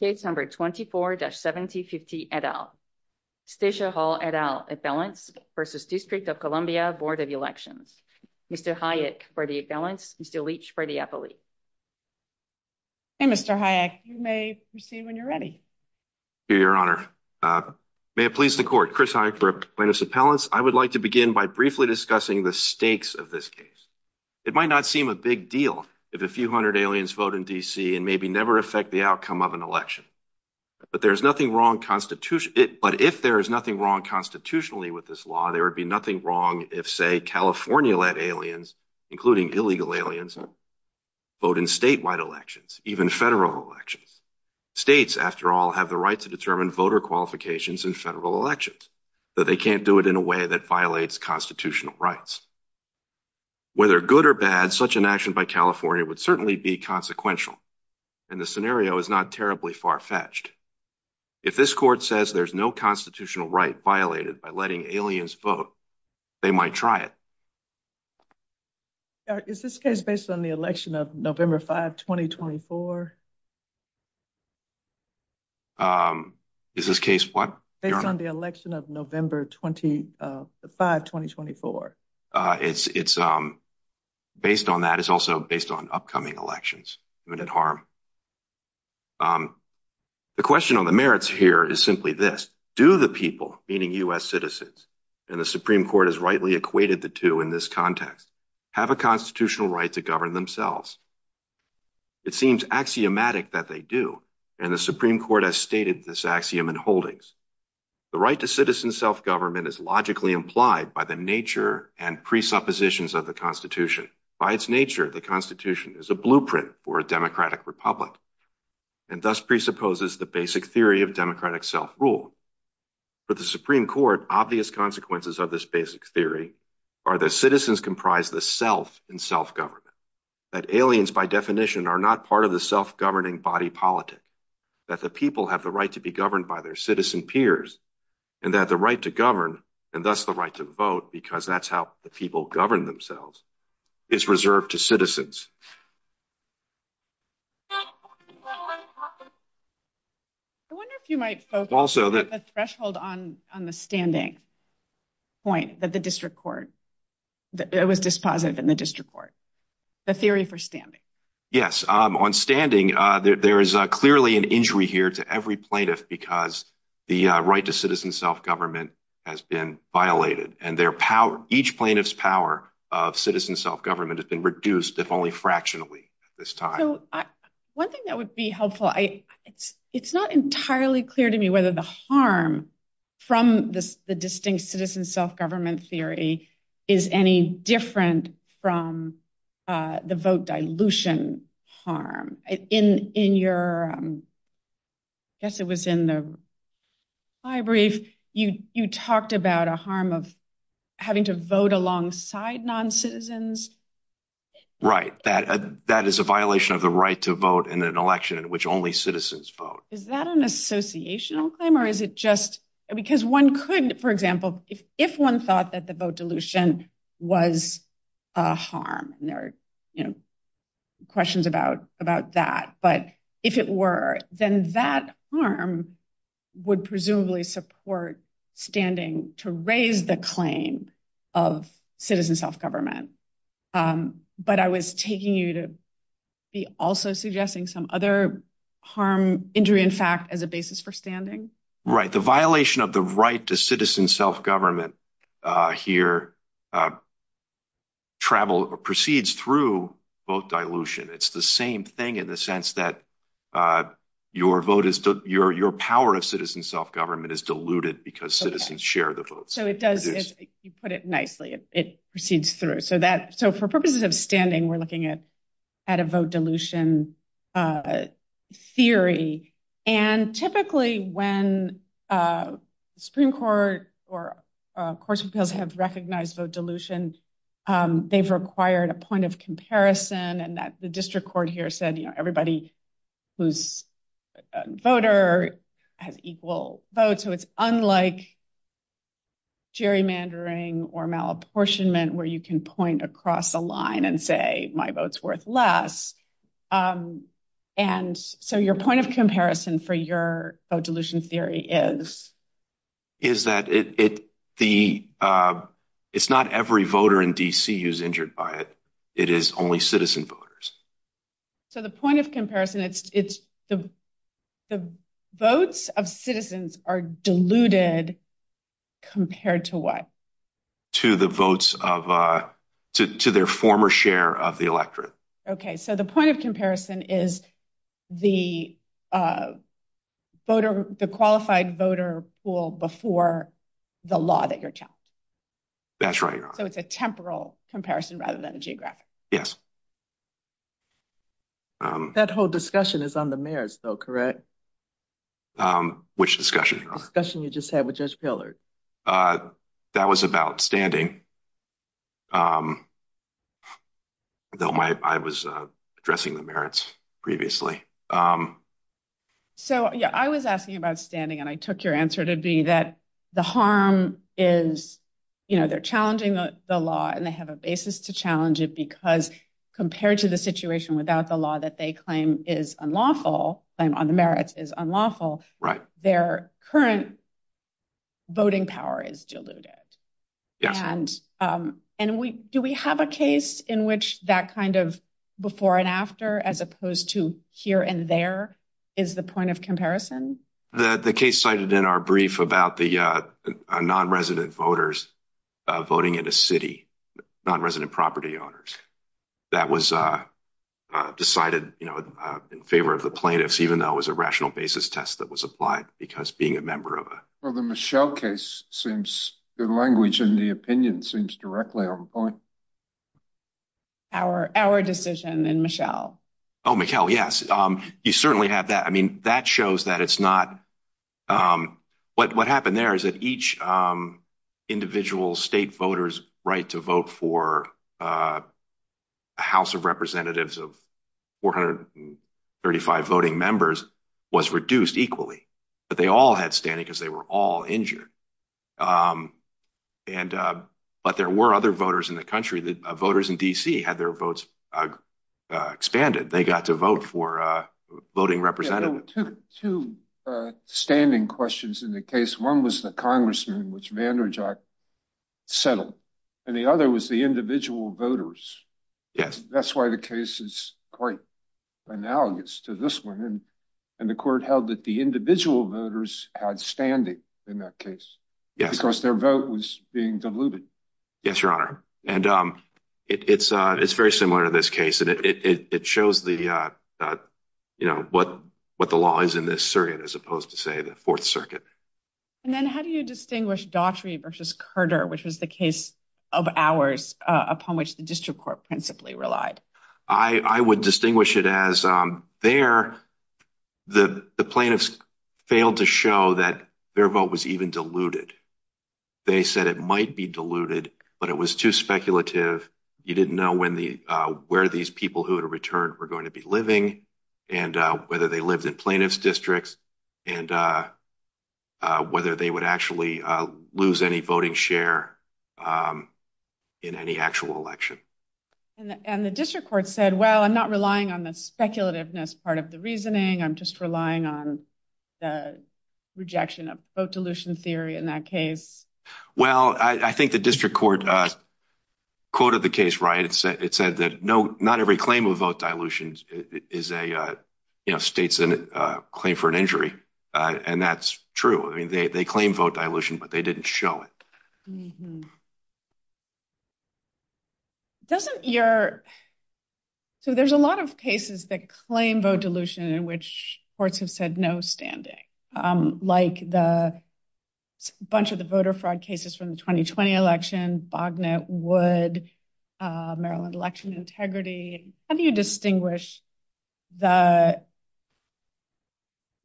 Case number 24-7050 et al. Stacia Hall et al. Appellants v. District of Columbia Board of Elections. Mr. Hayek for the appellants. Mr. Leach for the appellate. Hey Mr. Hayek, you may proceed when you're ready. Your honor, may it please the court. Chris Hayek for appellants. I would like to begin by briefly discussing the stakes of this case. It might not seem a big deal if a few hundred aliens vote in D.C. and maybe never affect the outcome of an election. But if there is nothing wrong constitutionally with this law, there would be nothing wrong if, say, California-led aliens, including illegal aliens, vote in statewide elections, even federal elections. States, after all, have the right to determine voter qualifications in federal elections, but they can't do it in a way that violates constitutional rights. Whether good or bad, such an action by California would certainly be consequential, and the scenario is not terribly far-fetched. If this court says there's no constitutional right violated by letting aliens vote, they might try it. Is this case based on the election of November 5, 2024? Is this case what? Based on the election of November 5, 2024. It's based on that. It's also based on upcoming elections. The question on the merits here is simply this. Do the people, meaning U.S. citizens, and the Supreme Court has rightly equated the two in this context, have a constitutional right to govern themselves? It seems axiomatic that they do, and the Supreme Court has stated this axiom in holdings. The right to citizen self-government is logically implied by the nature and presuppositions of the Constitution. By its nature, the Constitution is a blueprint for a democratic republic and thus presupposes the basic theory of democratic self-rule. For the Supreme Court, obvious consequences of this basic theory are that citizens comprise the self in self-government, that aliens by definition are not part of the self-governing body politic, that the people have the right to be governed by their citizen peers, and that the right to govern and thus the right to vote, because that's how the people govern themselves, is reserved to citizens. I wonder if you might focus the threshold on the standing point that the district court, that it was dispositive in the district court, the theory for standing. Yes. On standing, there is clearly an injury here to every plaintiff because the right to citizen self-government has been violated, and each plaintiff's power of citizen self-government has been reduced, if only fractionally, at this time. One thing that would be helpful, it's not entirely clear to me whether the harm from the distinct citizen self-government theory is any different from the vote dilution harm. In your, I guess it was in the high brief, you talked about a harm of having to vote alongside non-citizens. Right, that is a violation of the right to vote in an election in which only citizens vote. Is that an associational claim? For example, if one thought that the vote dilution was a harm, and there are questions about that, but if it were, then that harm would presumably support standing to raise the claim of citizen self-government. But I was taking you to be also suggesting some other harm, injury in fact, as a basis for standing. Right, the violation of the right to citizen self-government here travels or proceeds through vote dilution. It's the same thing in the sense that your vote is, your power of citizen self-government is diluted because citizens share the votes. So it does, you put it nicely, it proceeds through. So for purposes of standing, we're looking at a vote dilution theory. And typically when Supreme Court or courts of appeals have recognized vote dilution, they've required a point of comparison and that the district court here said, you know, everybody who's a voter has equal votes. So it's unlike gerrymandering or malapportionment where you can point across a line and say my vote's worth less. And so your point of comparison for your vote dilution theory is? Is that it's not every voter in D.C. who's injured by it. It is only citizen voters. So the point of comparison, it's the votes of citizens are diluted compared to what? To the votes of, to their former share of the electorate. Okay, so the point of comparison is the voter, the qualified voter pool before the law that you're challenged. That's right. So it's a temporal comparison rather than a geographic. Yes. That whole discussion is on the mayor's though, correct? Which discussion? Discussion you just had with Judge Pillard. That was about standing. Though my, I was addressing the merits previously. So yeah, I was asking about standing and I took your answer to be that the harm is, you know, they're challenging the law and they have a basis to challenge it because compared to the situation without the law that they claim is unlawful, claim on the merits is unlawful, their current voting power is diluted. And do we have a case in which that kind of before and after as opposed to here and there is the point of comparison? The case cited in our brief about the non-resident voters voting in a city, non-resident property owners. That was decided, you know, in favor of the plaintiffs, even though it was a rational basis test that was applied because being a member of a. Well, the Michelle case seems good language and the opinion seems directly on point. Our decision in Michelle. Oh, Michelle, yes. You certainly have that. I mean, that shows that it's not what what happened there is that each individual state voters right to vote for a house of representatives of four hundred and thirty five voting members was reduced equally, but they all had standing because they were all injured. And but there were other voters in the country that voters in D.C. had their votes expanded. They got to vote for a voting representative to standing questions in the case. One was the congressman, which Vander Jack settled, and the other was the individual voters. Yes, that's why the case is quite analogous to this one. And the court held that the individual voters had standing in that case because their vote was being diluted. Yes, your honor. And it's it's very similar to this case. And it shows the you know what what the law is in this circuit, as opposed to, say, the Fourth Circuit. And then how do you distinguish Daughtry versus Carter, which was the case of hours upon which the district court principally relied? I would distinguish it as there. The plaintiffs failed to show that their vote was even diluted. They said it might be diluted, but it was too speculative. You didn't know when the where these people who had returned were going to be living and whether they lived in plaintiff's districts and whether they would actually lose any voting share in any actual election. And the district court said, well, I'm not relying on the speculativeness part of the reasoning. I'm just relying on the rejection of vote dilution theory in that case. Well, I think the district court quoted the case right. It said that no, not every claim of vote dilution is a state's claim for an injury. And that's true. I mean, they claim vote dilution, but they didn't show it. Mm hmm. Doesn't your. So there's a lot of cases that claim vote dilution in which courts have said no standing, like the bunch of the voter fraud cases from the 2020 election, Bognett, Wood, Maryland election integrity. How do you distinguish the.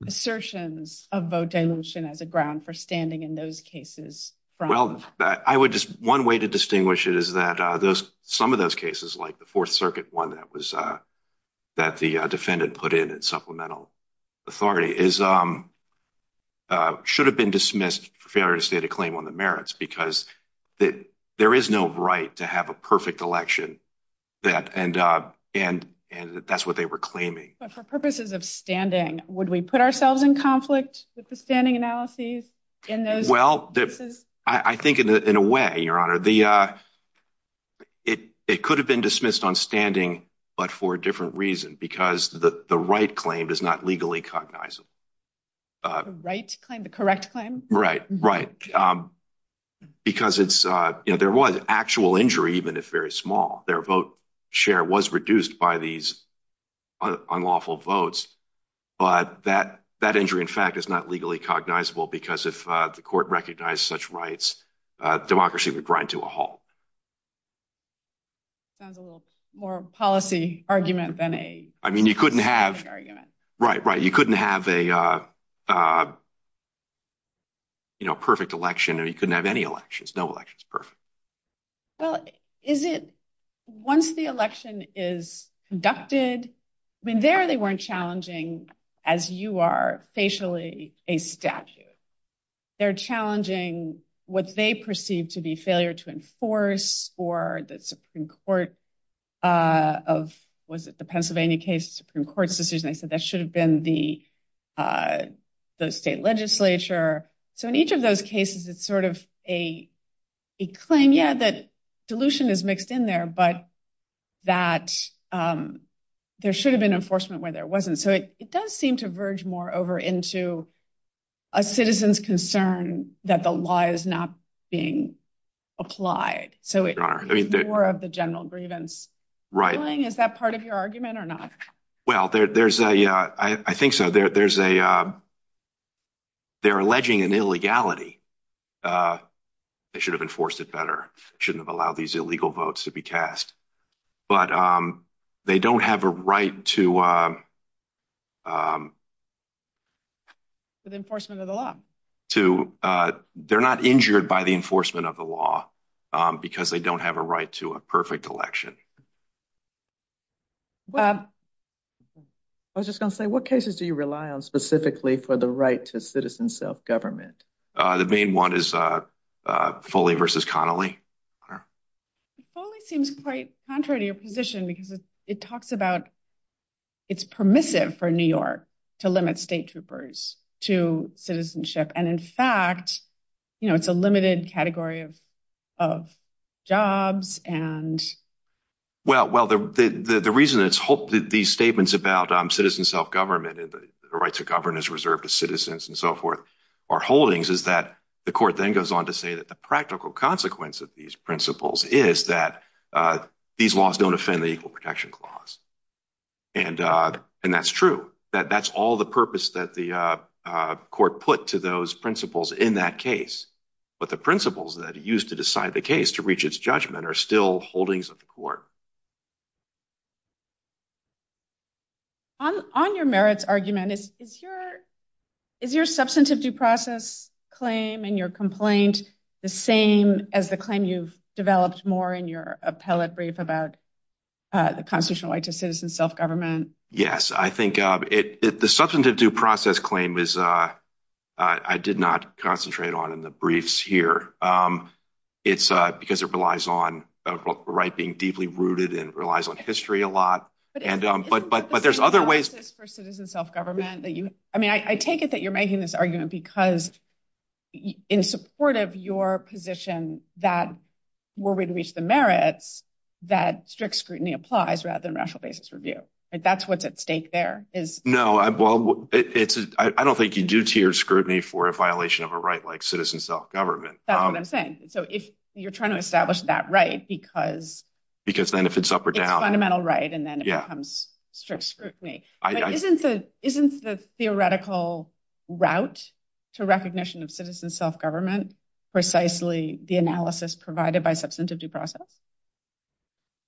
Assertions of vote dilution as a ground for standing in those cases? Well, I would just one way to distinguish it is that those some of those cases, like the Fourth Circuit one that was that the defendant put in at supplemental authority is should have been dismissed for failure to state a claim on the merits because that there is no right to have a perfect election that and and and that's what they were claiming. But for purposes of standing, would we put ourselves in conflict with the standing analysis in those? Well, I think in a way, your honor, the. It it could have been dismissed on standing, but for a different reason, because the right claim does not legally cognizable. Right claim the correct claim, right? Right. Because it's there was actual injury, even if very small, their vote share was reduced by these unlawful votes. But that that injury, in fact, is not legally cognizable because if the court recognized such rights, democracy would grind to a halt. Sounds a little more policy argument than a. I mean, you couldn't have. Right, right. You couldn't have a. You know, perfect election or you couldn't have any elections, no elections, perfect. Well, is it once the election is conducted? I mean, there they weren't challenging as you are facially a statute. They're challenging what they perceive to be failure to enforce or the Supreme Court of was it the Pennsylvania case Supreme Court's decision? They said that should have been the the state legislature. So in each of those cases, it's sort of a a claim. Yeah, that dilution is mixed in there, but that there should have been enforcement where there wasn't. So it does seem to verge more over into a citizen's concern that the law is not being applied. So it are more of the general grievance. Right. Is that part of your argument or not? Well, there's a I think so. There's a. They're alleging an illegality. They should have enforced it better, shouldn't have allowed these illegal votes to be cast, but they don't have a right to. With enforcement of the law to they're not injured by the enforcement of the law because they don't have a right to a perfect election. I was just going to say, what cases do you rely on specifically for the right to citizen self-government? The main one is Foley versus Connolly. Foley seems quite contrary to your position because it talks about it's permissive for New York to limit state troopers to citizenship. And in fact, you know, it's a limited category of of jobs. And well, well, the reason it's hoped these statements about citizen self-government and the right to govern is reserved to citizens and so forth or holdings is that the court then goes on to say that the practical consequence of these principles is that these laws don't offend the equal protection clause. And and that's true, that that's all the purpose that the court put to those principles in that case. But the principles that are used to decide the case to reach its judgment are still holdings of the court. On on your merits argument, is is your is your substantive due process claim and your complaint the same as the claim you've developed more in your appellate brief about the constitutional right to citizen self-government? Yes, I think it the substantive due process claim is I did not concentrate on in the briefs here. It's because it relies on a right being deeply rooted in the relies on history a lot. And but but but there's other ways for citizen self-government that you I mean, I take it that you're making this argument because in support of your position that we're going to reach the merits that strict scrutiny applies rather than rational basis review. That's what's at stake there is no. Well, it's I don't think you do tier scrutiny for a violation of a right like citizen self-government. That's what I'm saying. So if you're trying to establish that right because because then if it's up or down fundamental right and then it becomes strict scrutiny isn't the isn't the theoretical route to recognition of citizen self-government precisely the analysis provided by substantive due process?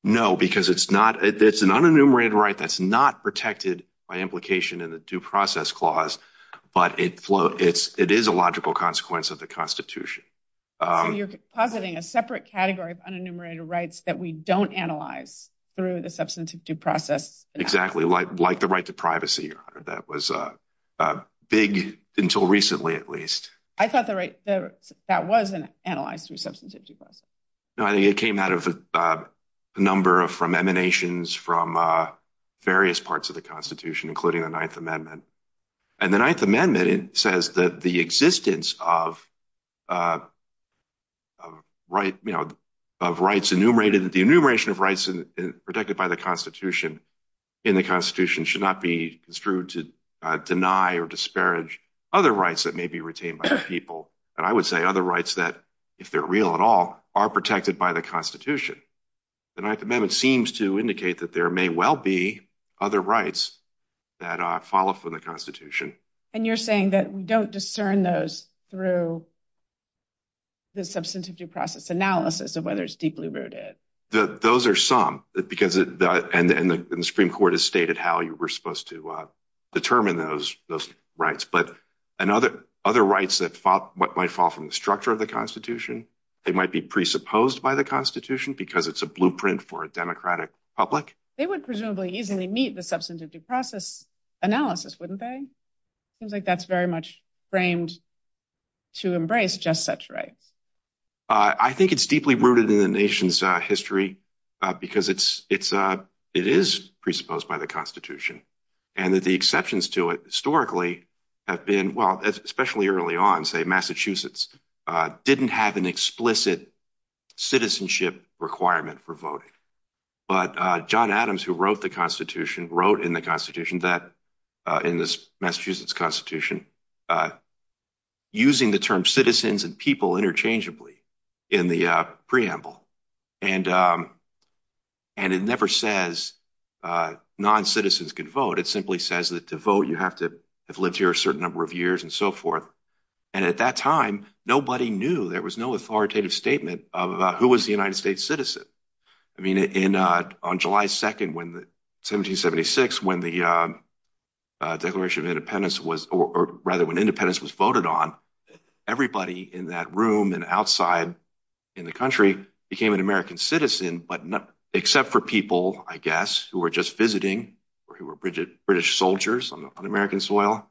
No, because it's not it's an unenumerated right that's not protected by implication in the due process clause, but it flow it's it is a logical consequence of the Constitution. You're positing a separate category of unenumerated rights that we don't analyze through the substantive due process. Exactly like like the right to privacy your honor. That was a big until recently at least. I thought the right that wasn't analyzed through substantive due process. No, I think it came out of a number of from emanations from various parts of the Constitution including the Ninth Amendment. And the Ninth Amendment says that the existence of right, you know, of rights enumerated that the enumeration of rights protected by the Constitution in the Constitution should not be construed to deny or disparage other rights that may be retained by the people. And I would say other rights that if they're real at all are protected by the Constitution. The Ninth Amendment seems to indicate that there may well be other rights that follow from the Constitution. And you're saying that we don't discern those through the substantive due process analysis of whether it's deeply rooted. That those are some because it and the Supreme Court has stated how you were supposed to determine those those rights, but another other rights that fought what might fall from the structure of the Constitution. They might be presupposed by the Constitution because it's a meet the substantive due process analysis, wouldn't they? Seems like that's very much framed to embrace just such rights. I think it's deeply rooted in the nation's history because it's it's a it is presupposed by the Constitution and that the exceptions to it historically have been well especially early on say Massachusetts didn't have an explicit citizenship requirement for voting. But John Adams who wrote the Constitution wrote in the Constitution that in this Massachusetts Constitution using the term citizens and people interchangeably in the preamble and and it never says non-citizens could vote. It simply says that to vote you have to have lived here a certain number of years and so forth. And at that time nobody knew there was no authoritative statement of who was the United States citizen. I mean in on July 2nd when the 1776 when the Declaration of Independence was or rather when independence was voted on everybody in that room and outside in the country became an American citizen but not except for people I guess who were just visiting or who were Bridget British soldiers on American soil.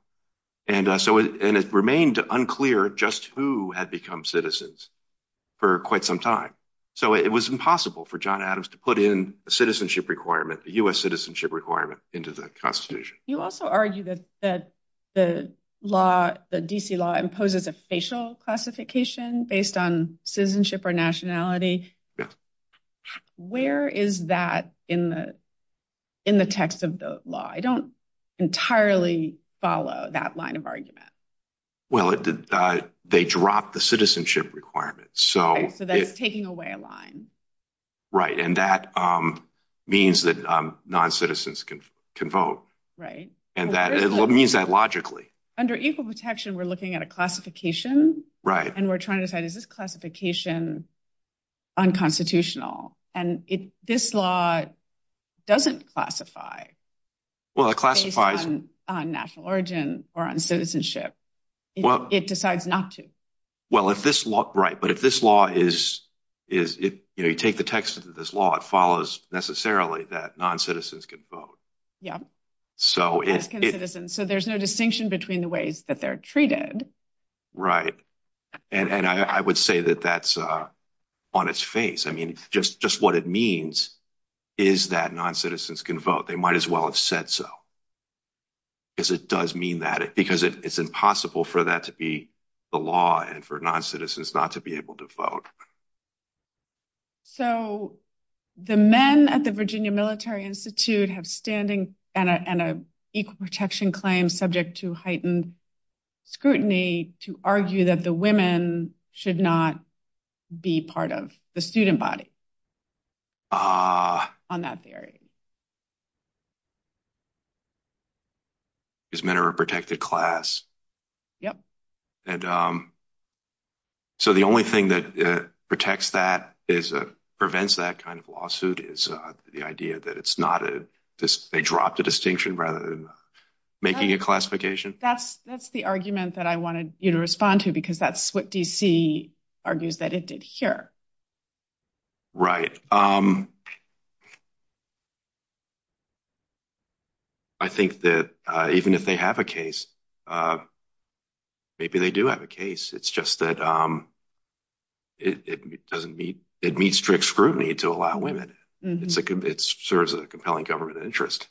And so and it remained unclear just who had become citizens for quite some time. So it was impossible for John Adams to put in a citizenship requirement the U.S. citizenship requirement into the Constitution. You also argue that that the law the D.C. law imposes a facial classification based on citizenship or nationality. Yes. Where is that in the in the text of the law? I don't entirely follow that line of argument. Well it did they dropped the citizenship requirement. So that's taking away a line. Right and that means that non-citizens can vote. Right. And that it means that logically. Under equal protection we're looking at a classification. Right. And we're trying to is this classification unconstitutional and it this law doesn't classify. Well it classifies on national origin or on citizenship. Well it decides not to. Well if this law right but if this law is is it you know you take the text of this law it follows necessarily that non-citizens can vote. Yeah. So it's so there's no distinction between the ways that they're treated. Right. And I would say that that's on its face. I mean just just what it means is that non-citizens can vote. They might as well have said so because it does mean that because it's impossible for that to be the law and for non-citizens not to be able to vote. So the men at the Virginia Military Institute have standing and an equal protection claim subject to heightened scrutiny to argue that the women should not be part of the student body on that theory. Because men are a protected class. Yep. And so the only thing that protects that is a prevents that kind of lawsuit is the idea that it's not a this they drop the distinction rather than making a classification. That's that's the argument that I wanted you to respond to because that's what DC argues that it did here. Right. I think that even if they have a case maybe they do have a case it's just that it doesn't meet it meets strict scrutiny to allow women. It's a it serves a compelling government interest.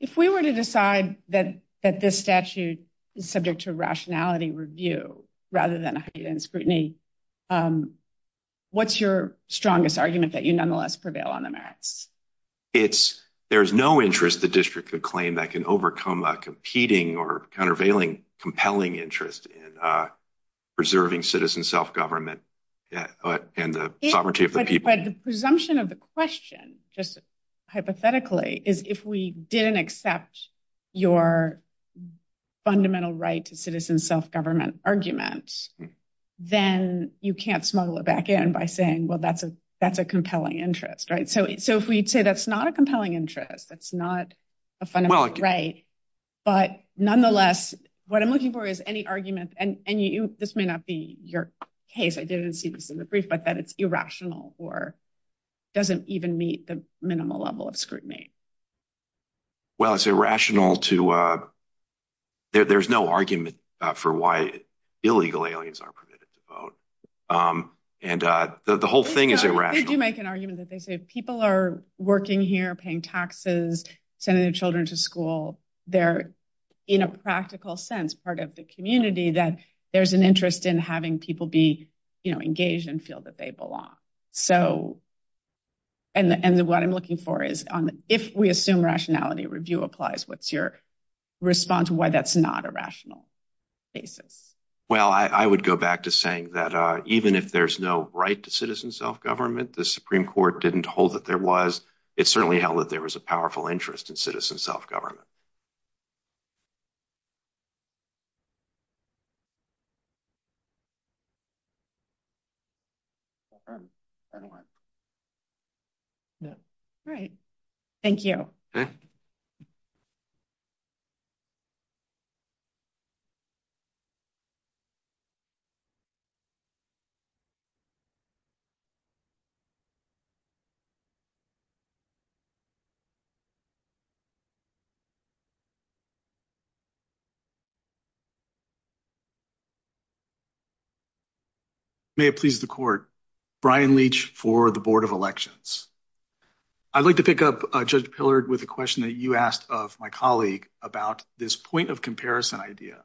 If we were to decide that that this statute is subject to rationality review rather than heightened scrutiny what's your strongest argument that you nonetheless prevail on the merits? It's there's no interest the district could claim that can overcome a competing or countervailing compelling interest in preserving citizen self-government and the sovereignty of the people. But the presumption of the question just hypothetically is if we didn't accept your fundamental right to citizen self-government argument then you can't smuggle it back in by saying well that's a that's a compelling interest right so so if we'd say that's not a compelling interest that's not a fundamental right but nonetheless what I'm looking for is any argument and and you this may not be your case I didn't see this in the brief but that it's irrational or doesn't even meet the minimal level of scrutiny. Well it's irrational to there's no argument for why illegal aliens aren't permitted to vote and the whole thing is irrational. They do make an argument that they say people are working here paying taxes sending their children to school they're in a practical sense part of the community that there's an interest in having people be you know engaged and feel that they belong. So and and what I'm looking for is on if we assume rationality review applies what's your response why that's not a rational basis? Well I I would go back to saying that uh even if there's no right to citizen self-government the Supreme Court didn't hold that there was it certainly held that there was a powerful interest in citizen self-government. Great thank you. Thank you. May it please the court. Brian Leach for the Board of Elections. I'd like to pick up uh Judge Pillard with a question that you asked of my colleague about this point of comparison idea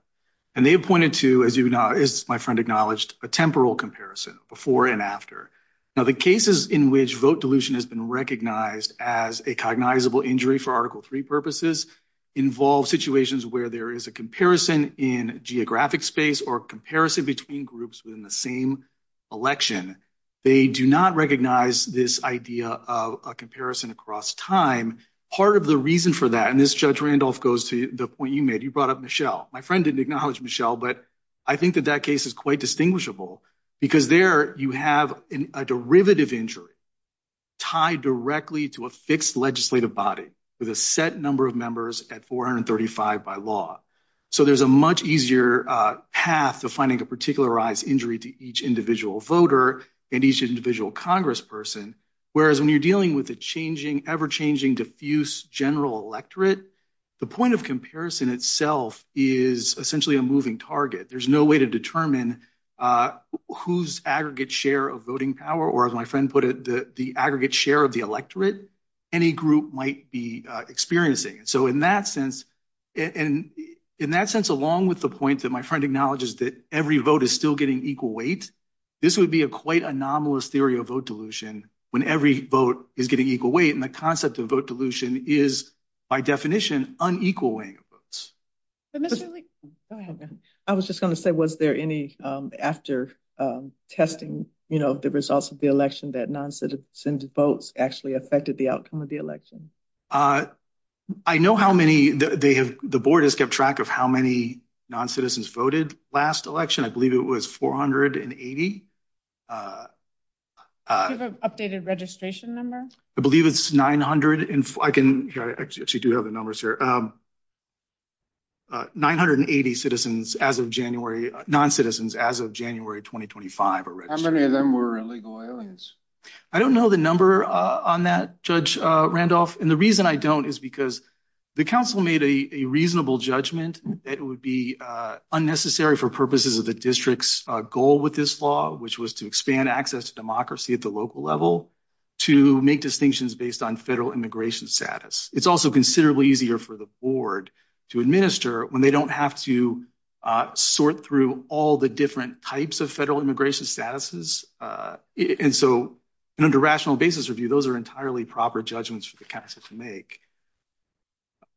and they pointed to as you know as my friend acknowledged a temporal comparison before and after. Now the cases in which vote dilution has been recognized as a cognizable injury for article three purposes involve situations where there is a comparison in geographic space or comparison between groups within the same election. They do not recognize this idea of a comparison across time. Part of the reason for that and this Judge Randolph goes to the point you made you brought Michelle. My friend didn't acknowledge Michelle but I think that that case is quite distinguishable because there you have a derivative injury tied directly to a fixed legislative body with a set number of members at 435 by law. So there's a much easier path to finding a particularized injury to each individual voter and each individual congressperson whereas when you're dealing with a changing ever-changing diffuse general electorate the point of comparison itself is essentially a moving target. There's no way to determine uh whose aggregate share of voting power or as my friend put it the the aggregate share of the electorate any group might be experiencing. So in that sense and in that sense along with the point that my friend acknowledges that every vote is still getting equal weight this would be a quite anomalous theory of vote dilution when every vote is getting equal weight and the concept of vote dilution is by definition unequal weighing of votes. I was just going to say was there any um after um testing you know the results of the election that non-citizen votes actually affected the outcome of the election? Uh I know how many they have the board has kept track of how many non-citizens voted last election I believe it was 480. Do you have an updated registration number? I believe it's 900 and I can actually do have the numbers here um 980 citizens as of January non-citizens as of January 2025. How many of them were illegal aliens? I don't know the number uh on that Judge Randolph and the reason I don't is because the council made a reasonable judgment that it would be uh unnecessary for purposes of the district's uh goal with this law which was to expand access to democracy at the local level to make distinctions based on federal immigration status. It's also considerably easier for the board to administer when they don't have to uh sort through all the different types of federal immigration statuses uh and so under rational basis review those are entirely proper judgments for the council to make.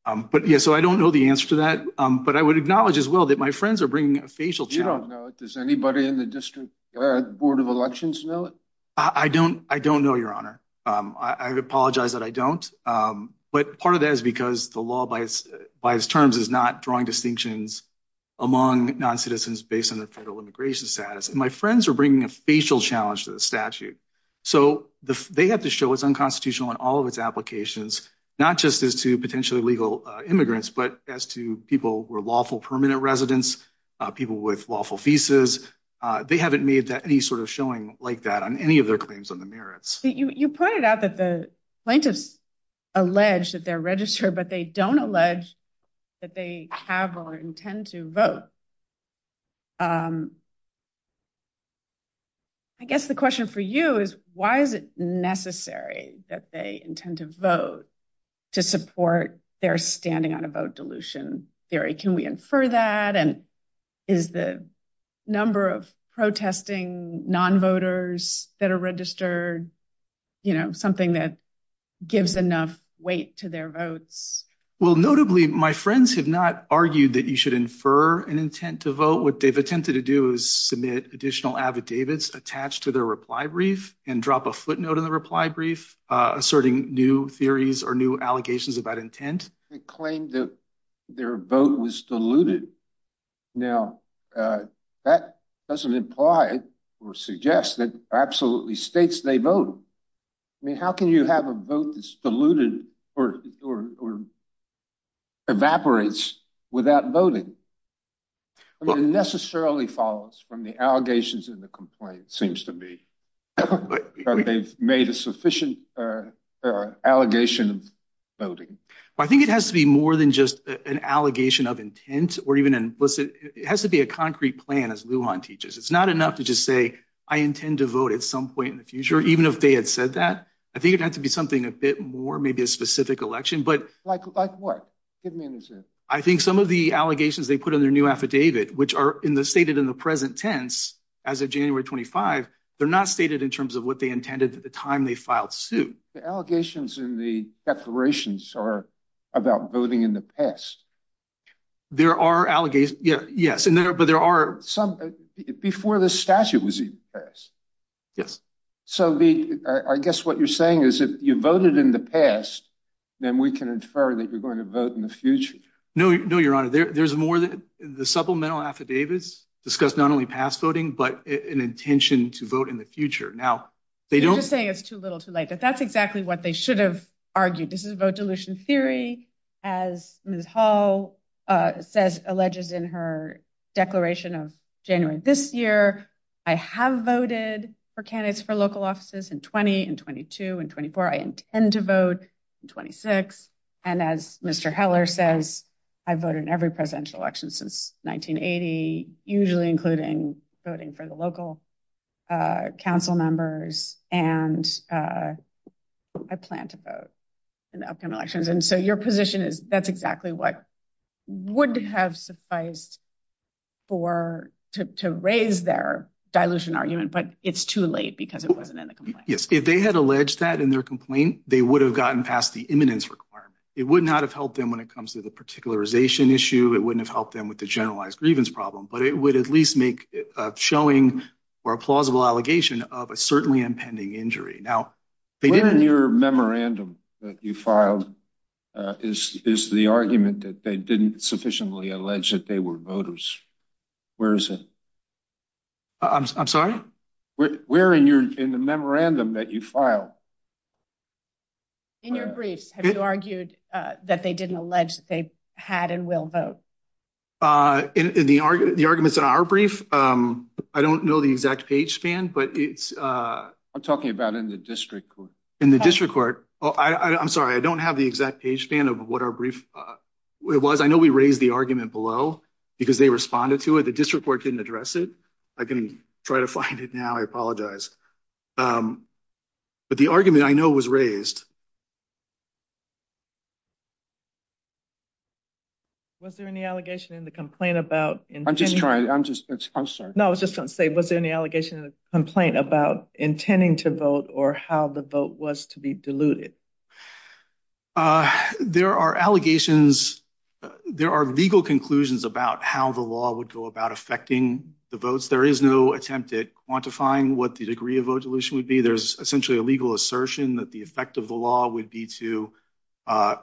Um but yeah so I don't know the answer to that um but I would acknowledge as well that my friends are bringing a facial challenge. You don't know it. Does anybody in the district uh board of elections know it? I don't I don't know your honor um I apologize that I don't um but part of that is because the law by its by its terms is not drawing distinctions among non-citizens based on their federal immigration status and my friends are bringing a facial challenge to the statute so they have to show it's unconstitutional in all of its applications not just as to potentially legal immigrants but as to people were lawful permanent residents uh people with lawful visas uh they haven't made that any sort of showing like that on any of their claims on the merits. You pointed out that the plaintiffs allege that they're registered but they don't allege that they have or intend to vote um I guess the question for you is why is it necessary that they intend to vote to support their standing on a vote dilution theory? Can we infer that and is the number of protesting non-voters that are registered you know something that gives enough weight to their votes? Well notably my friends have not argued that you should infer an intent to vote what they've attempted to do is submit additional affidavits attached to their reply brief and drop a footnote in the reply brief uh asserting new theories or new allegations about intent. They claimed that their vote was diluted now uh that doesn't imply or suggest that absolutely states they vote I mean how can you have a vote that's diluted or or evaporates without voting? I mean it necessarily follows from the allegations in the complaint seems to me but they've made a sufficient uh uh allegation of voting. I think it has to be more than just an allegation of intent or even implicit it has to be a concrete plan as Lujan teaches. It's not enough to just say I intend to vote at some point in the future even if they had said that I think it had to be something a bit more maybe a specific election but like like what give me an example. I think some of the allegations they put on their new affidavit which are in the stated in the present tense as of January 25 they're not stated in terms of what they intended at the time they filed suit. The allegations in the declarations are about voting in the past. There are allegations yeah yes and there but there are some before this statute was even passed. Yes. So the I guess what you're saying is if you voted in the past then we can infer that you're going to vote in the future. No no your honor there's more than the supplemental affidavits discuss not only past voting but an intention to vote in the future. Now they don't say it's too little too late but that's exactly what they should have argued. This is a vote dilution theory as Ms. Hall says alleges in her declaration of January this year. I have voted for candidates for local offices in 20 and 22 and 24. I intend to vote in 26 and as Mr. Heller says I voted in every presidential election since 1980 usually including voting for the local council members and I plan to vote in the upcoming elections and so your position is that's exactly what would have sufficed for to raise their dilution argument but it's too late because it wasn't in the complaint. Yes if they had alleged that in their complaint they would have gotten past the imminence requirement. It would not have helped them when it comes to the particularization issue. It wouldn't have helped them with the grievance problem but it would at least make a showing or a plausible allegation of a certainly impending injury. Now they did in your memorandum that you filed is is the argument that they didn't sufficiently allege that they were voters. Where is it? I'm sorry? Where in your in the memorandum that you filed? In your briefs have you argued that they didn't allege that they had and will vote? Uh in the argument the arguments in our brief um I don't know the exact page span but it's uh I'm talking about in the district court in the district court oh I I'm sorry I don't have the exact page span of what our brief uh it was I know we raised the argument below because they responded to it the district court didn't address it I can try to find it now I apologize um but argument I know was raised. Was there any allegation in the complaint about I'm just trying I'm just I'm sorry no I was just gonna say was there any allegation in the complaint about intending to vote or how the vote was to be diluted? Uh there are allegations there are legal conclusions about how the law would go about affecting the votes there is no attempt at quantifying what the degree of vote dilution would be there's essentially a legal assertion that the effect of the law would be to uh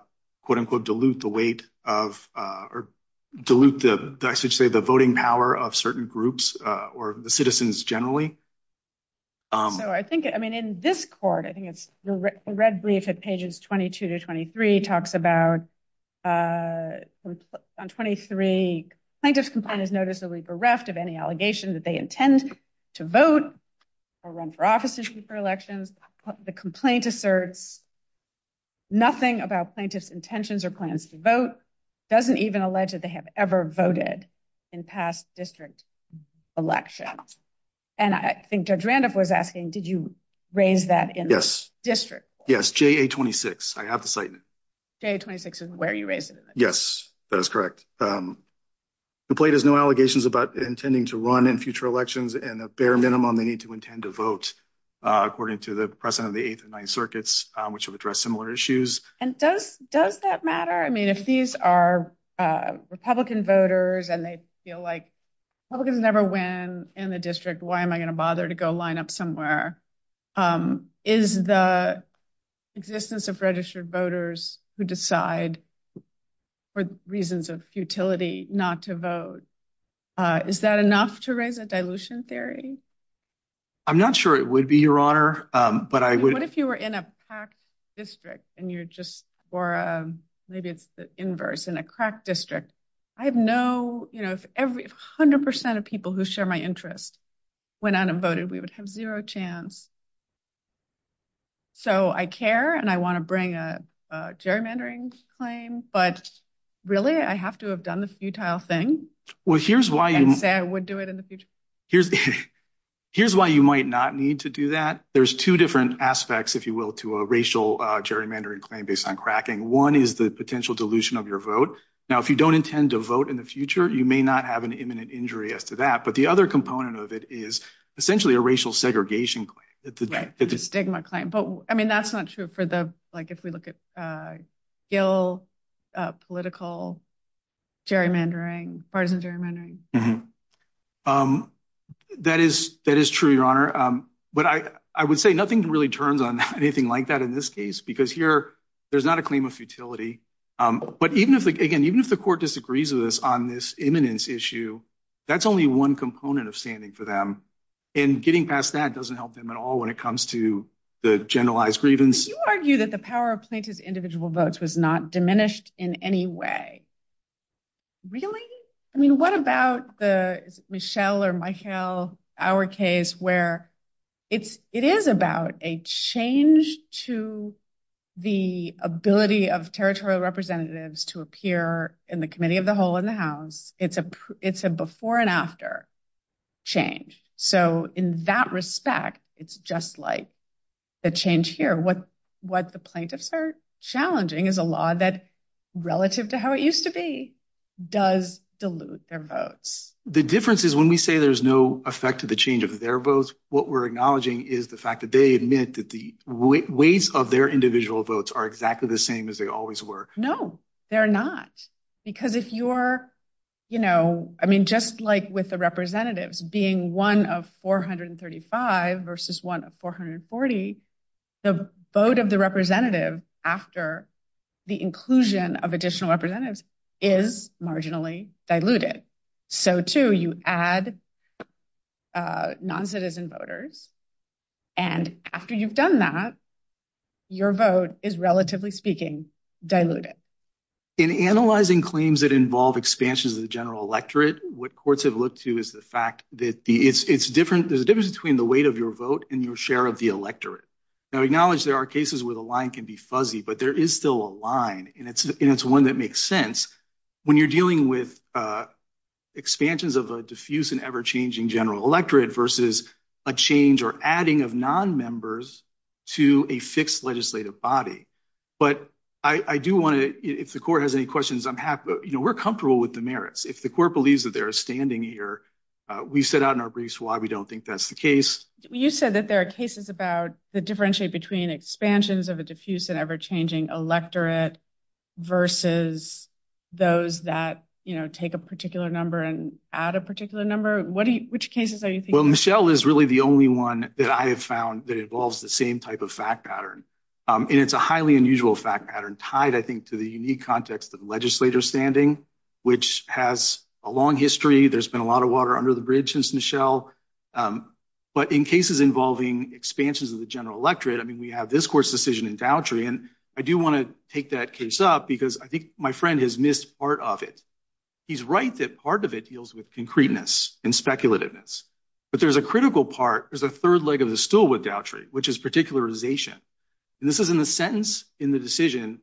quote-unquote dilute the weight of uh or dilute the I should say the voting power of certain groups uh or the citizens generally. So I think I mean in this court I think it's the red brief at pages 22 to 23 talks about uh on 23 plaintiffs complaint is noticeably bereft of any allegation that they intend to vote or run for office for elections the complaint asserts nothing about plaintiffs intentions or plans to vote doesn't even allege that they have ever voted in past district elections and I think Judge Randolph was asking did you raise that in this district? Yes JA-26 I have the site in it. JA-26 is where you raised it. Yes that is correct um complaint has no allegations about intending to run in future elections and the bare minimum they need to intend to vote uh according to the precedent of the eighth and ninth circuits which have addressed similar issues. And does does that matter I mean if these are uh Republican voters and they feel like Republicans never win in the district why am I going to bother to go line up somewhere um is the existence of registered voters who decide for reasons of futility not to vote uh is that enough to raise a dilution theory? I'm not sure it would be your honor um but I would what if you were in a packed district and you're just or uh maybe it's the inverse in a crack district I have no you know if every hundred percent of people who share my interest went out and voted we would have zero chance. So I care and I want to bring a gerrymandering claim but really I have to have done the futile thing. Well here's why you say I would do it in the future here's here's why you might not need to do that there's two different aspects if you will to a racial gerrymandering claim based on cracking one is the potential dilution of your vote now if you don't intend to vote in the future you may not have an imminent injury as to that but the other component of it is essentially a stigma claim but I mean that's not true for the like if we look at uh ill uh political gerrymandering partisan gerrymandering um that is that is true your honor um but I I would say nothing really turns on anything like that in this case because here there's not a claim of futility um but even if again even if the court disagrees with us on this imminence issue that's only one component of standing for them and getting past that doesn't help them at all when it comes to the generalized grievance you argue that the power of plaintiff's individual votes was not diminished in any way really I mean what about the Michelle or Michael our case where it's it is about a change to the ability of territorial representatives to appear in the committee of the whole in the house it's a it's a before and after change so in that respect it's just like the change here what what the plaintiffs are challenging is a law that relative to how it used to be does dilute their votes the difference is when we say there's no effect to the change of their votes what we're acknowledging is the fact that they admit that the ways of their individual votes are exactly the same as they always were no they're not because if you're you know I mean just like with the representatives being one of 435 versus one of 440 the vote of the representative after the inclusion of additional representatives is marginally diluted so too you add uh non-citizen voters and after you've done that your vote is relatively speaking diluted in analyzing claims that involve expansions of the general electorate what courts have looked to is the fact that the it's it's different there's a difference between the weight of your vote and your share of the electorate now acknowledge there are cases where the line can be fuzzy but there is still a line and it's and it's one that makes sense when you're dealing with uh expansions of a diffuse and ever-changing general electorate a change or adding of non-members to a fixed legislative body but I I do want to if the court has any questions I'm happy you know we're comfortable with the merits if the court believes that they're standing here we set out in our briefs why we don't think that's the case you said that there are cases about the differentiate between expansions of a diffuse and ever-changing electorate versus those that you know take a particular number and add a particular number what do you which cases are you thinking well michelle is really the only one that I have found that involves the same type of fact pattern and it's a highly unusual fact pattern tied I think to the unique context of legislature standing which has a long history there's been a lot of water under the bridge since michelle but in cases involving expansions of the general electorate I mean we have this court's decision in downtree and I do want to take that case up because I think my friend has missed part of it he's right that part of it deals with concreteness and speculativeness but there's a critical part there's a third leg of the stool with downtree which is particularization and this is in the sentence in the decision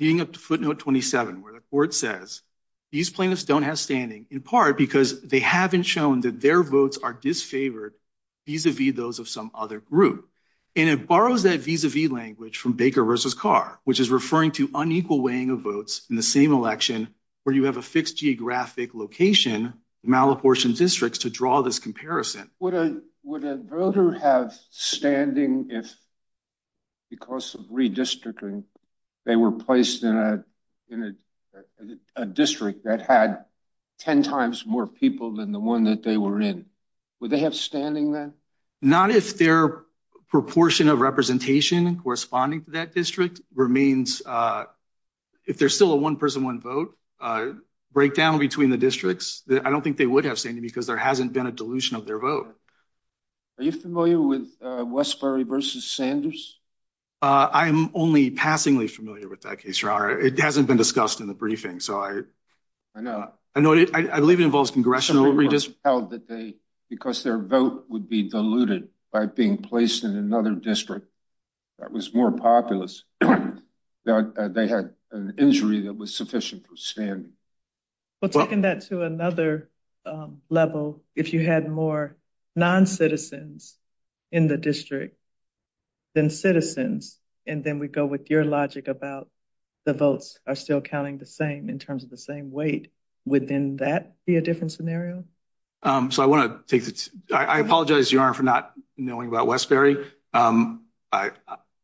leading up to footnote 27 where the court says these plaintiffs don't have standing in part because they haven't shown that their votes are disfavored vis-a-vis those of some other group and it borrows that vis-a-vis language from baker which is referring to unequal weighing of votes in the same election where you have a fixed geographic location malapportioned districts to draw this comparison would a would a voter have standing if because of redistricting they were placed in a in a district that had 10 times more people than the one that they were in would they have standing then not if their proportion of representation corresponding to that district remains uh if there's still a one person one vote uh breakdown between the districts that I don't think they would have standing because there hasn't been a dilution of their vote are you familiar with uh Westbury versus Sanders uh I am only passingly familiar with that case your honor it hasn't been discussed in the briefing so I I know I know it I believe it involves congressional redistrict held that they because their vote would be diluted by being placed in another district that was more populous that they had an injury that was sufficient for standing well taking that to another level if you had more non-citizens in the district than citizens and then we go with your logic about the votes are still counting the same in terms of the same weight within that be a scenario um so I want to take this I apologize your honor for not knowing about Westbury um I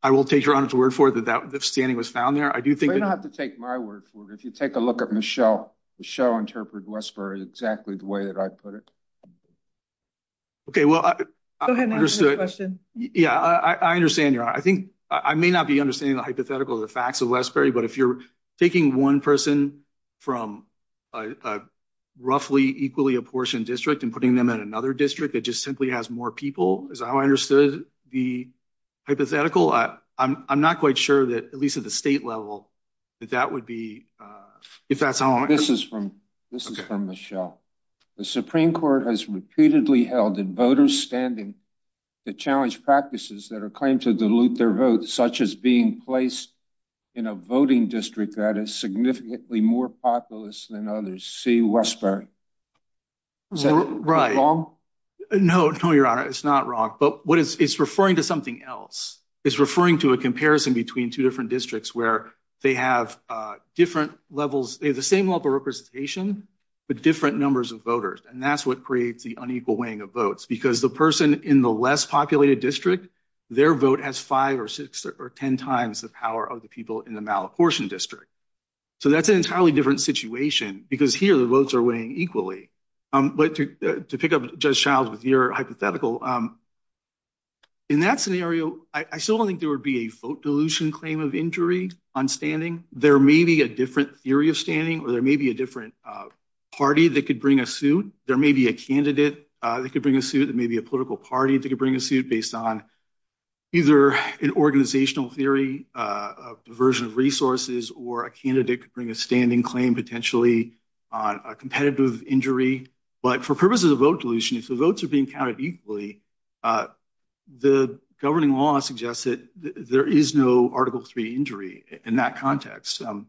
I will take your honor's word for that that standing was found there I do think you don't have to take my word for it if you take a look at Michelle Michelle interpreted Westbury exactly the way that I put it okay well I understood the question yeah I I understand your honor I think I may not be understanding the hypothetical the facts of Westbury but if you're taking one person from a roughly equally apportioned district and putting them in another district that just simply has more people is how I understood the hypothetical I I'm I'm not quite sure that at least at the state level that that would be uh if that's how this is from this is from Michelle the supreme court has repeatedly held in voters standing to challenge practices that are claimed to dilute their votes such as being placed in a voting district that is significantly more populous than others see Westbury is that right no no your honor it's not wrong but what is it's referring to something else it's referring to a comparison between two different districts where they have uh different levels they have the same level representation but different numbers of voters and that's what creates the unequal weighing of votes because the person in the less populated district their vote has five or six or ten times the power of the people in the malapportioned district so that's an entirely different situation because here the votes are weighing equally um but to to pick up judge childs with your hypothetical um in that scenario I still don't think there would be a vote dilution claim of injury on standing there may be a different theory of standing or there may be a different uh party that could bring a suit there may be a candidate that could bring a suit that may be a political party that could bring a suit based on either an organizational theory a version of resources or a candidate could bring a standing claim potentially on a competitive injury but for purposes of vote dilution if the votes are being counted equally uh the governing law suggests that there is no article three injury in that context um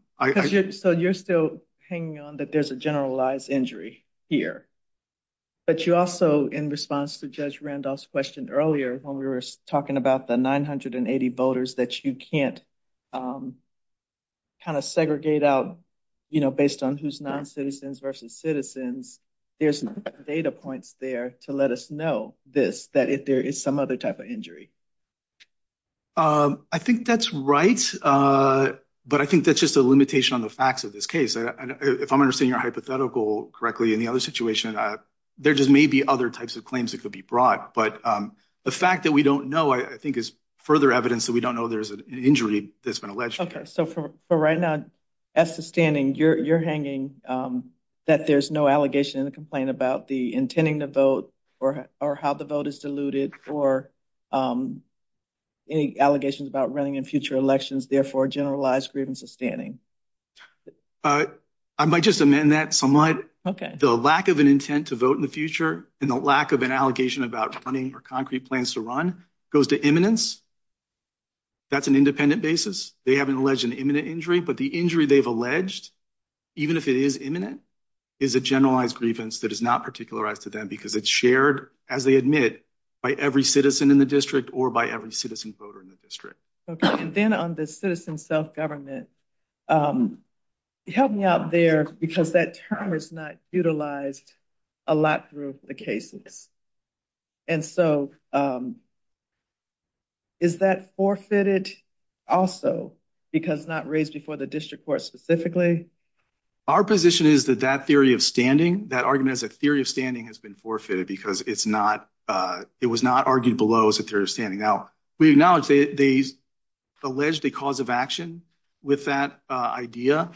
so you're still hanging on that there's a generalized injury here but you also in response to judge randolph's question earlier when we were talking about the 980 voters that you can't um kind of segregate out you know based on who's non-citizens versus citizens there's data points there to let us know this that if there is some other type of injury um I think that's right uh but I think that's just a limitation on the facts of this case if I'm understanding your hypothetical correctly in the other situation there just may be other types of claims that could be brought but um the fact that we don't know I think is further evidence that we don't know there's an injury that's been alleged okay so for right now as to standing you're you're hanging um that there's no allegation in the complaint about the intending to vote or or how the vote is diluted or um any allegations about running in future elections therefore generalized grievance is standing uh I might just amend that somewhat okay the lack of an intent to vote in the future and the lack of an allegation about running or concrete plans to run goes to imminence that's an independent basis they haven't alleged an imminent injury but the injury they've alleged even if it is imminent is a generalized grievance that is not particularized because it's shared as they admit by every citizen in the district or by every citizen voter in the district okay and then on the citizen self-government um help me out there because that term is not utilized a lot through the cases and so um is that forfeited also because not raised before the district court specifically our position is that that of standing that argument as a theory of standing has been forfeited because it's not uh it was not argued below as a theory of standing now we acknowledge they they alleged a cause of action with that uh idea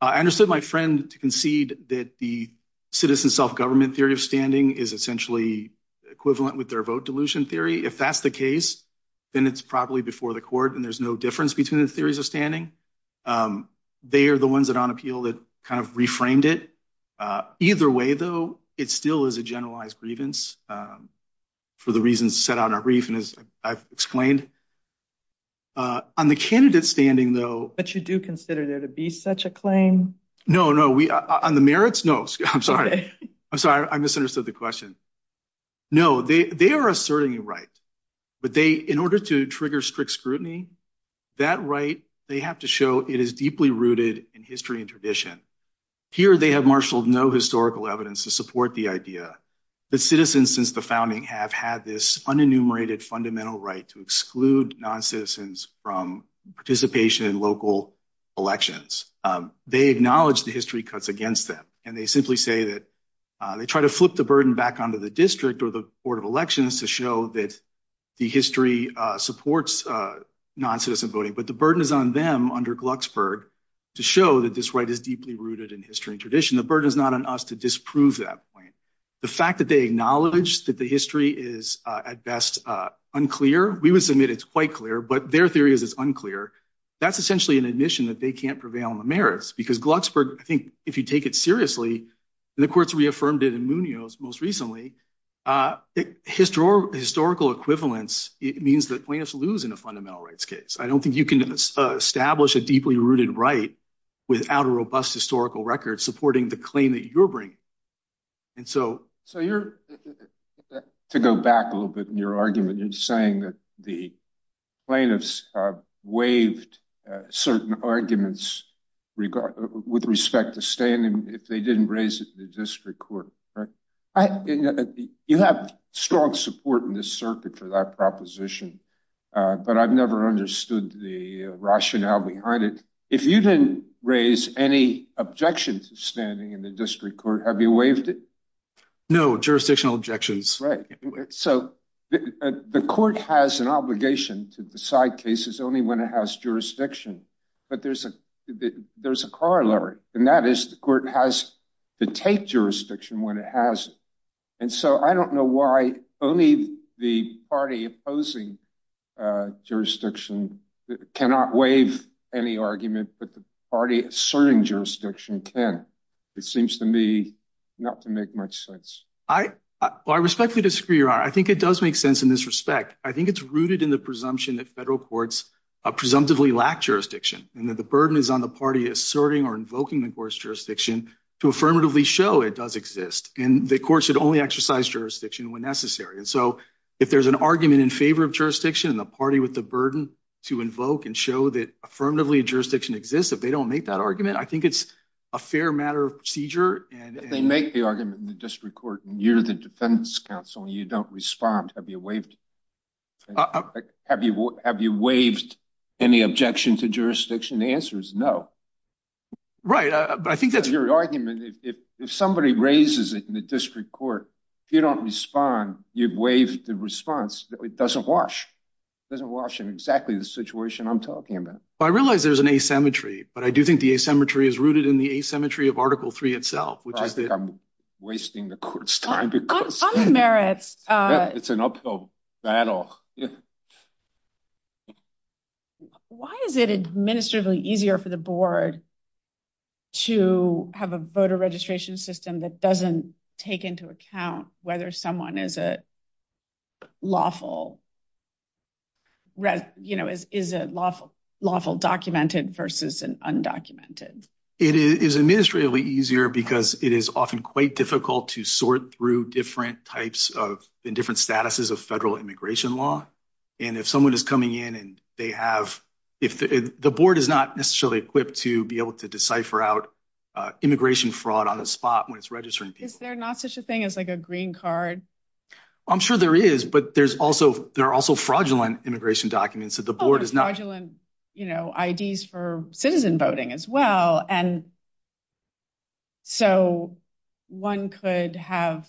I understood my friend to concede that the citizen self-government theory of standing is essentially equivalent with their vote dilution theory if that's the case then it's probably before the court and there's no difference between the theories of standing um they are the ones that on appeal that kind of reframed it uh either way though it still is a generalized grievance um for the reasons set out in our brief and as I've explained uh on the candidate standing though but you do consider there to be such a claim no no we on the merits no I'm sorry I'm sorry I misunderstood the question no they they are certainly right but they in order to trigger strict scrutiny that right they have to show it is deeply rooted in history and tradition here they have marshaled no historical evidence to support the idea that citizens since the founding have had this unenumerated fundamental right to exclude non-citizens from participation in local elections they acknowledge the history cuts against them and they simply say that they try to flip the burden back onto the district or board of elections to show that the history uh supports uh non-citizen voting but the burden is on them under Glucksburg to show that this right is deeply rooted in history and tradition the burden is not on us to disprove that point the fact that they acknowledge that the history is uh at best uh unclear we would submit it's quite clear but their theory is it's unclear that's essentially an admission that they can't prevail on the merits because Glucksburg I think if you take it seriously and the courts reaffirmed it in Munoz most recently uh historical equivalence it means that plaintiffs lose in a fundamental rights case I don't think you can establish a deeply rooted right without a robust historical record supporting the claim that you're bringing and so so you're to go back a little bit in your argument you're saying that the plaintiffs uh waived uh certain arguments regard with respect to standing if they didn't raise it in the district court right I you have strong support in this circuit for that proposition uh but I've never understood the rationale behind it if you didn't raise any objections to standing in the district court have you waived it no jurisdictional objections right so the court has an obligation to decide cases only when it has jurisdiction but there's a there's a corollary and that is the court has to take jurisdiction when it has and so I don't know why only the party opposing uh jurisdiction cannot waive any argument but the party asserting jurisdiction can it seems to me not to make much sense I well I respectfully disagree your honor I think it does make sense in this respect I think it's rooted in the presumption that federal courts uh presumptively lack jurisdiction and that the burden is on the party asserting or invoking the court's jurisdiction to affirmatively show it does exist and the courts should only exercise jurisdiction when necessary and so if there's an argument in favor of jurisdiction and the party with the burden to invoke and show that affirmatively jurisdiction exists if they don't make that argument I think it's a fair matter of procedure and they make the argument in the district court and you're the defense counsel you don't respond have you waived have you have you waived any objection to jurisdiction the answer is no right but I think that's your argument if if somebody raises it in the district court if you don't respond you've waived the response it doesn't wash it doesn't wash in exactly the situation I'm talking about I realize there's an asymmetry but I do think the asymmetry is rooted in the asymmetry of article three itself which is that I'm wasting the court's merits uh it's an uphill battle why is it administratively easier for the board to have a voter registration system that doesn't take into account whether someone is a lawful you know is is a lawful lawful documented versus an undocumented it is administratively easier because it is often quite difficult to sort through different types of in different statuses of federal immigration law and if someone is coming in and they have if the board is not necessarily equipped to be able to decipher out uh immigration fraud on the spot when it's registering people is there not such a thing as like a green card I'm sure there is but there's also there are also fraudulent immigration documents that the board is not you know IDs for citizen voting as well and so one could have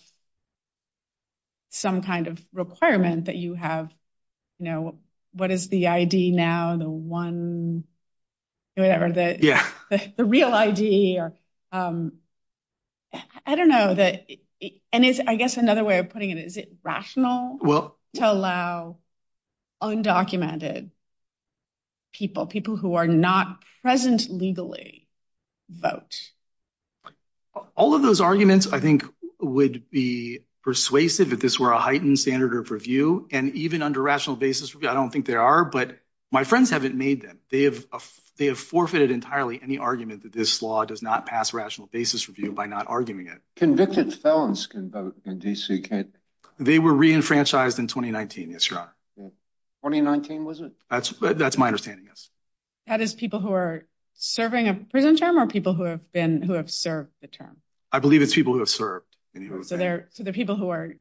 some kind of requirement that you have you know what is the ID now the one whatever the yeah the real ID or um I don't know that and it's I guess another way of putting it is it rational well to allow undocumented people people who are not present legally vote all of those arguments I think would be persuasive if this were a heightened standard of review and even under rational basis I don't think there are but my friends haven't made them they have they have forfeited entirely any argument that this law does not pass rational basis review by not arguing it convicted felons can vote in DC can't they were re-enfranchised in 2019 yes your honor 2019 was it that's that's my understanding yes that is people who are serving a prison term or people who have been who have served the term I believe it's people who have served so they're so they're people who are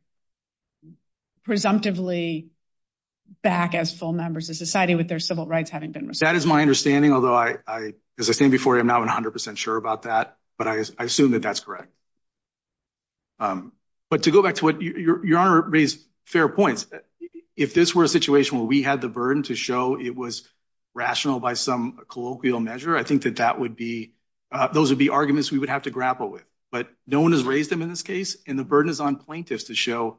presumptively back as full members of society with their civil rights having been that is my understanding although I I as I said before I'm not 100 sure about that but I assume that that's correct um but to go back to what your your honor raised fair points if this were a situation where we had the burden to show it was rational by some colloquial measure I think that that would be those would be arguments we would have to grapple with but no one has raised them in this case and the burden is on plaintiffs to show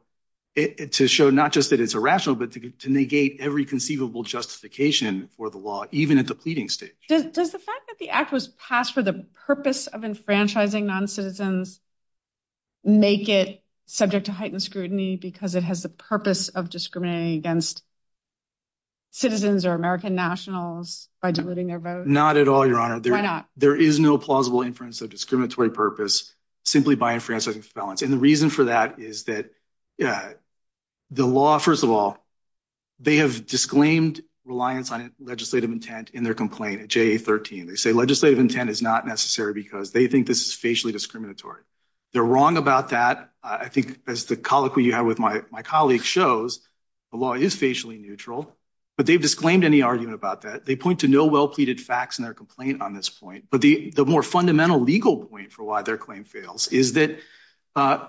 it to show not just that it's irrational but to negate every conceivable justification for the law even at the pleading stage does the fact that the act was passed for the purpose of enfranchising non-citizens make it subject to heightened scrutiny because it has the purpose of discriminating against citizens or American nationals by diluting their vote not at all your honor why not there is no plausible inference of discriminatory purpose simply by enfranchising felons and the reason for that is that yeah the law first of all they have disclaimed reliance on legislative intent in their complaint at ja13 they say legislative intent is not necessary because they think this is facially discriminatory they're wrong about that I think as the colloquy you have with my my colleague shows the law is facially neutral but they've disclaimed any argument about that they point to no well-pleaded facts in their complaint on this point but the the more fundamental legal point for why their claim fails is that uh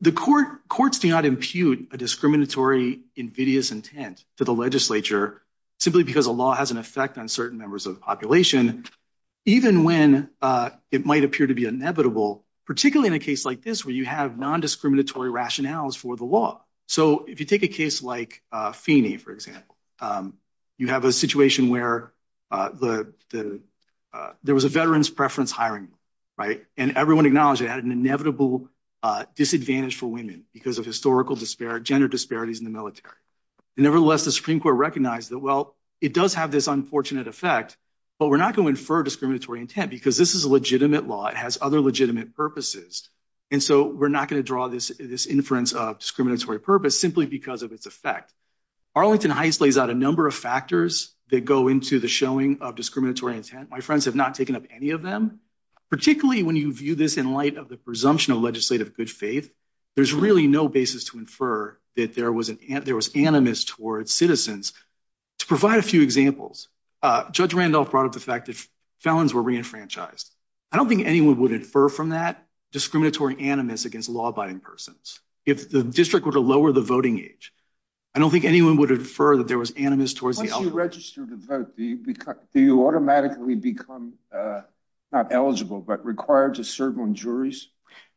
the court courts do not impute a discriminatory invidious intent to the legislature simply because the law has an effect on certain members of the population even when uh it might appear to be inevitable particularly in a case like this where you have non-discriminatory rationales for the law so if you take a case like uh feeney for example um you have a situation where uh the the there was a veteran's preference hiring right and everyone acknowledged it had an inevitable uh disadvantage for women because of historical disparate gender disparities in the military and nevertheless the supreme court recognized that well it does have this unfortunate effect but we're not going to infer discriminatory intent because this is a legitimate law it has other legitimate purposes and so we're not going to draw this this inference of discriminatory purpose simply because of its effect arlington heist lays out a number of factors that go into the showing of discriminatory intent my friends have not taken up any of them particularly when you view this in light of the presumption of legislative good faith there's really no basis to infer that there was an ant there was animus towards citizens to provide a few examples uh judge randolph brought up the fact that felons were re-enfranchised i don't think anyone would infer from that discriminatory animus against law-abiding persons if the district were to lower the voting age i don't think anyone would infer that there was animus towards the register to vote do you automatically become uh not eligible but required to serve on juries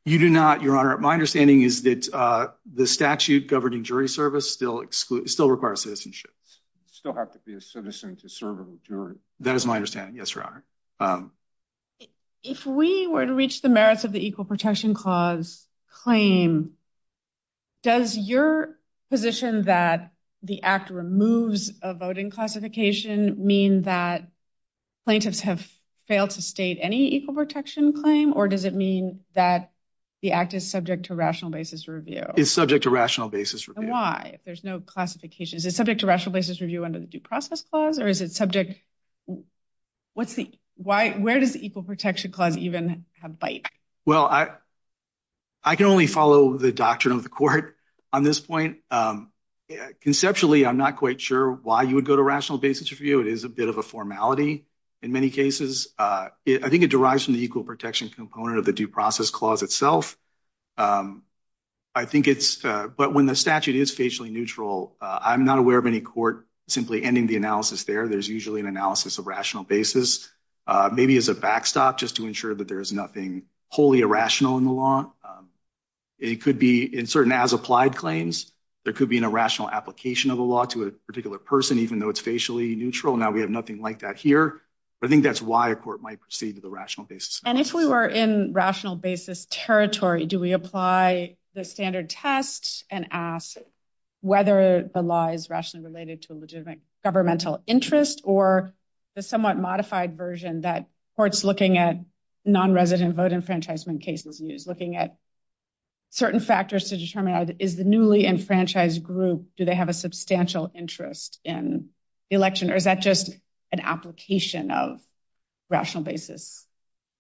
you do not your honor my understanding is that uh the statute governing jury service still exclude still requires citizenship still have to be a citizen to serve a jury that is my understanding yes your honor um if we were to reach the merits of the equal protection clause claim does your position that the act removes a voting classification mean that plaintiffs have failed to state any equal protection claim or does it mean that the act is subject to rational basis review it's subject to rational basis for why if there's no classification is it subject to rational basis review under the due process clause or is it subject what's the why where does the equal protection clause even have bite well i i can only follow the doctrine of the court on this point um conceptually i'm not quite sure why you would go to rational basis review it is a bit of a formality in many cases uh i think it derives from the equal protection component of the due process clause itself um i think it's uh but when the statute is facially neutral i'm not aware of any court simply ending the analysis there there's usually an analysis of rational basis uh maybe as a backstop just to ensure that there is nothing wholly irrational in the law it could be in certain as applied claims there could be an irrational application of the law to a particular person even though it's facially neutral now we have nothing like that here but i think that's why a court might proceed to the rational basis and if we were in rational basis territory do we apply the standard test and ask whether the law is rationally related to a legitimate governmental interest or the somewhat modified version that courts looking at non-resident vote enfranchisement cases use looking at certain factors to determine is the newly enfranchised group do they have a substantial interest in the election or is that just an application of rational basis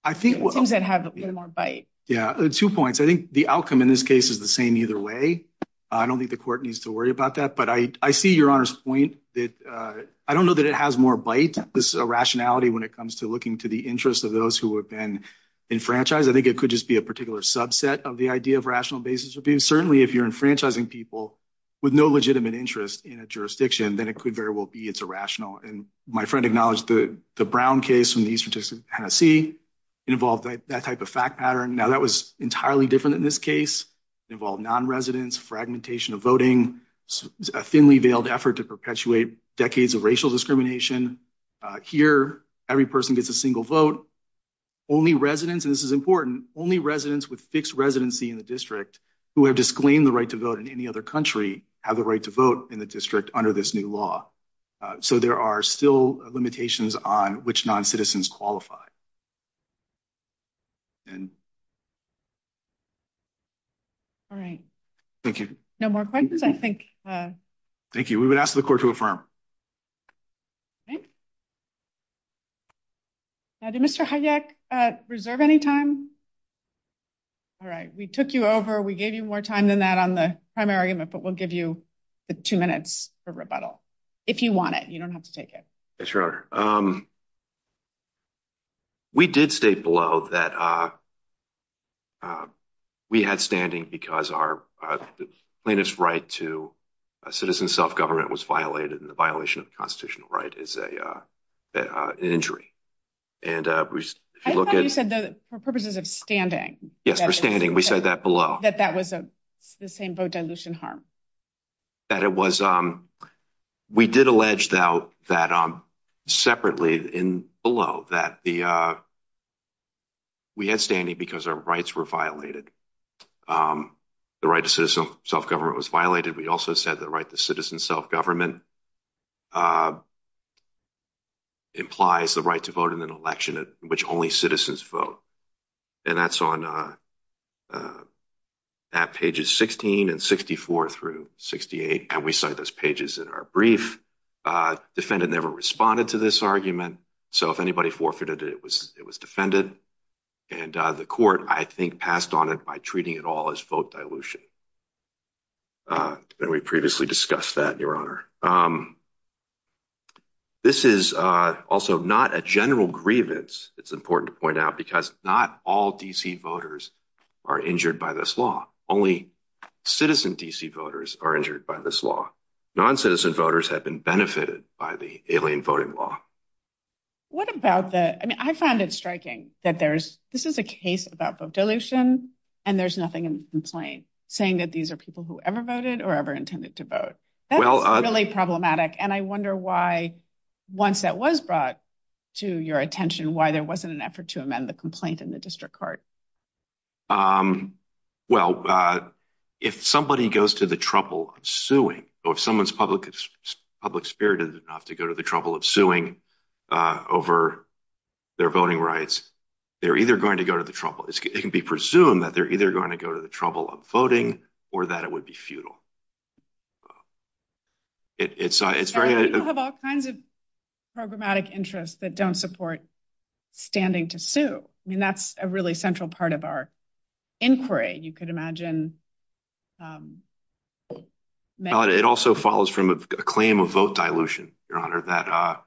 i think it seems that have a little more bite yeah two points i think the outcome in this case is the same either way i don't think the court needs to worry about that but i i see your honor's point that uh i don't know that it has more bite this irrationality when it comes to looking to the interest of those who have been enfranchised i think it could just be a particular subset of the idea of rational basis would be certainly if you're enfranchising people with no legitimate interest in a jurisdiction then it could very well be it's irrational and my friend acknowledged the the brown case from the eastern texas tennessee involved that type of fact pattern now that was entirely different in this case involved non-residents fragmentation of voting a thinly veiled effort to perpetuate decades of racial discrimination here every person gets a single vote only residents and this is important only residents with fixed residency in the district who have disclaimed the right to vote in any other country have the right to vote in the district under this new law so there are still limitations on which non-citizens qualify and all right thank you no more questions i think uh thank you we would ask the court to affirm okay now did mr hayek uh reserve any time all right we took you over we gave you more time than that on the primary amendment but we'll give you the two minutes for rebuttal if you want it you don't have to take it yes your honor um we did state below that uh uh we had standing because our uh plaintiff's plaintiff's right to a citizen self-government was violated and the violation of the constitutional right is a uh an injury and uh if you look at you said that for purposes of standing yes we're standing we said that below that that was a the same boat dilution harm that it was um we did allege though that um separately in below that the uh we had standing because our rights were violated um the right to citizen self-government was violated we also said the right to citizen self-government uh implies the right to vote in an election which only citizens vote and that's on uh at pages 16 and 64 through 68 and we cite those pages in our brief uh defendant never responded to this argument so if anybody forfeited it was it was defended and uh the court i think passed on it by treating it all as vote dilution uh and we previously discussed that your honor um this is uh also not a general grievance it's important to point out because not all dc voters are injured by this law only citizen dc voters are injured by this law non-citizen voters have been benefited by the alien voting law what about the i mean i found it striking that there's this is a case about vote dilution and there's nothing in the complaint saying that these are people who ever voted or ever intended to vote that's really problematic and i wonder why once that was brought to your attention why there wasn't an effort to amend the complaint in the district court um well uh if somebody goes to the trouble of suing or if someone's public public spirited enough to go to the trouble of suing uh over their voting rights they're to go to the trouble it can be presumed that they're either going to go to the trouble of voting or that it would be futile it's uh it's very you have all kinds of programmatic interests that don't support standing to sue i mean that's a really central part of our inquiry you could imagine um it also follows from a claim of vote dilution your honor that uh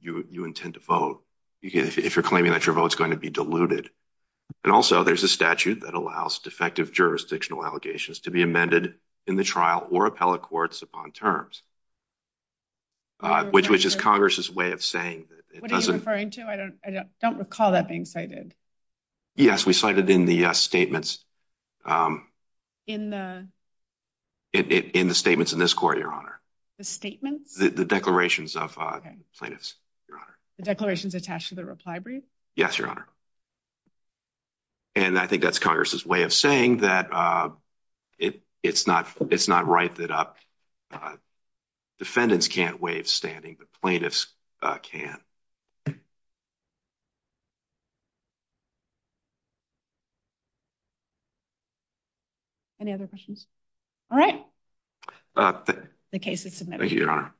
you you intend to you can if you're claiming that your vote is going to be diluted and also there's a statute that allows defective jurisdictional allegations to be amended in the trial or appellate courts upon terms uh which is congress's way of saying what are you referring to i don't i don't recall that being cited yes we cited in the uh statements um in the in the statements in this court your the statements the declarations of uh plaintiffs your honor the declarations attached to the reply brief yes your honor and i think that's congress's way of saying that uh it it's not it's not right that uh defendants can't waive standing the plaintiffs uh can you any other questions all right uh the case is submitted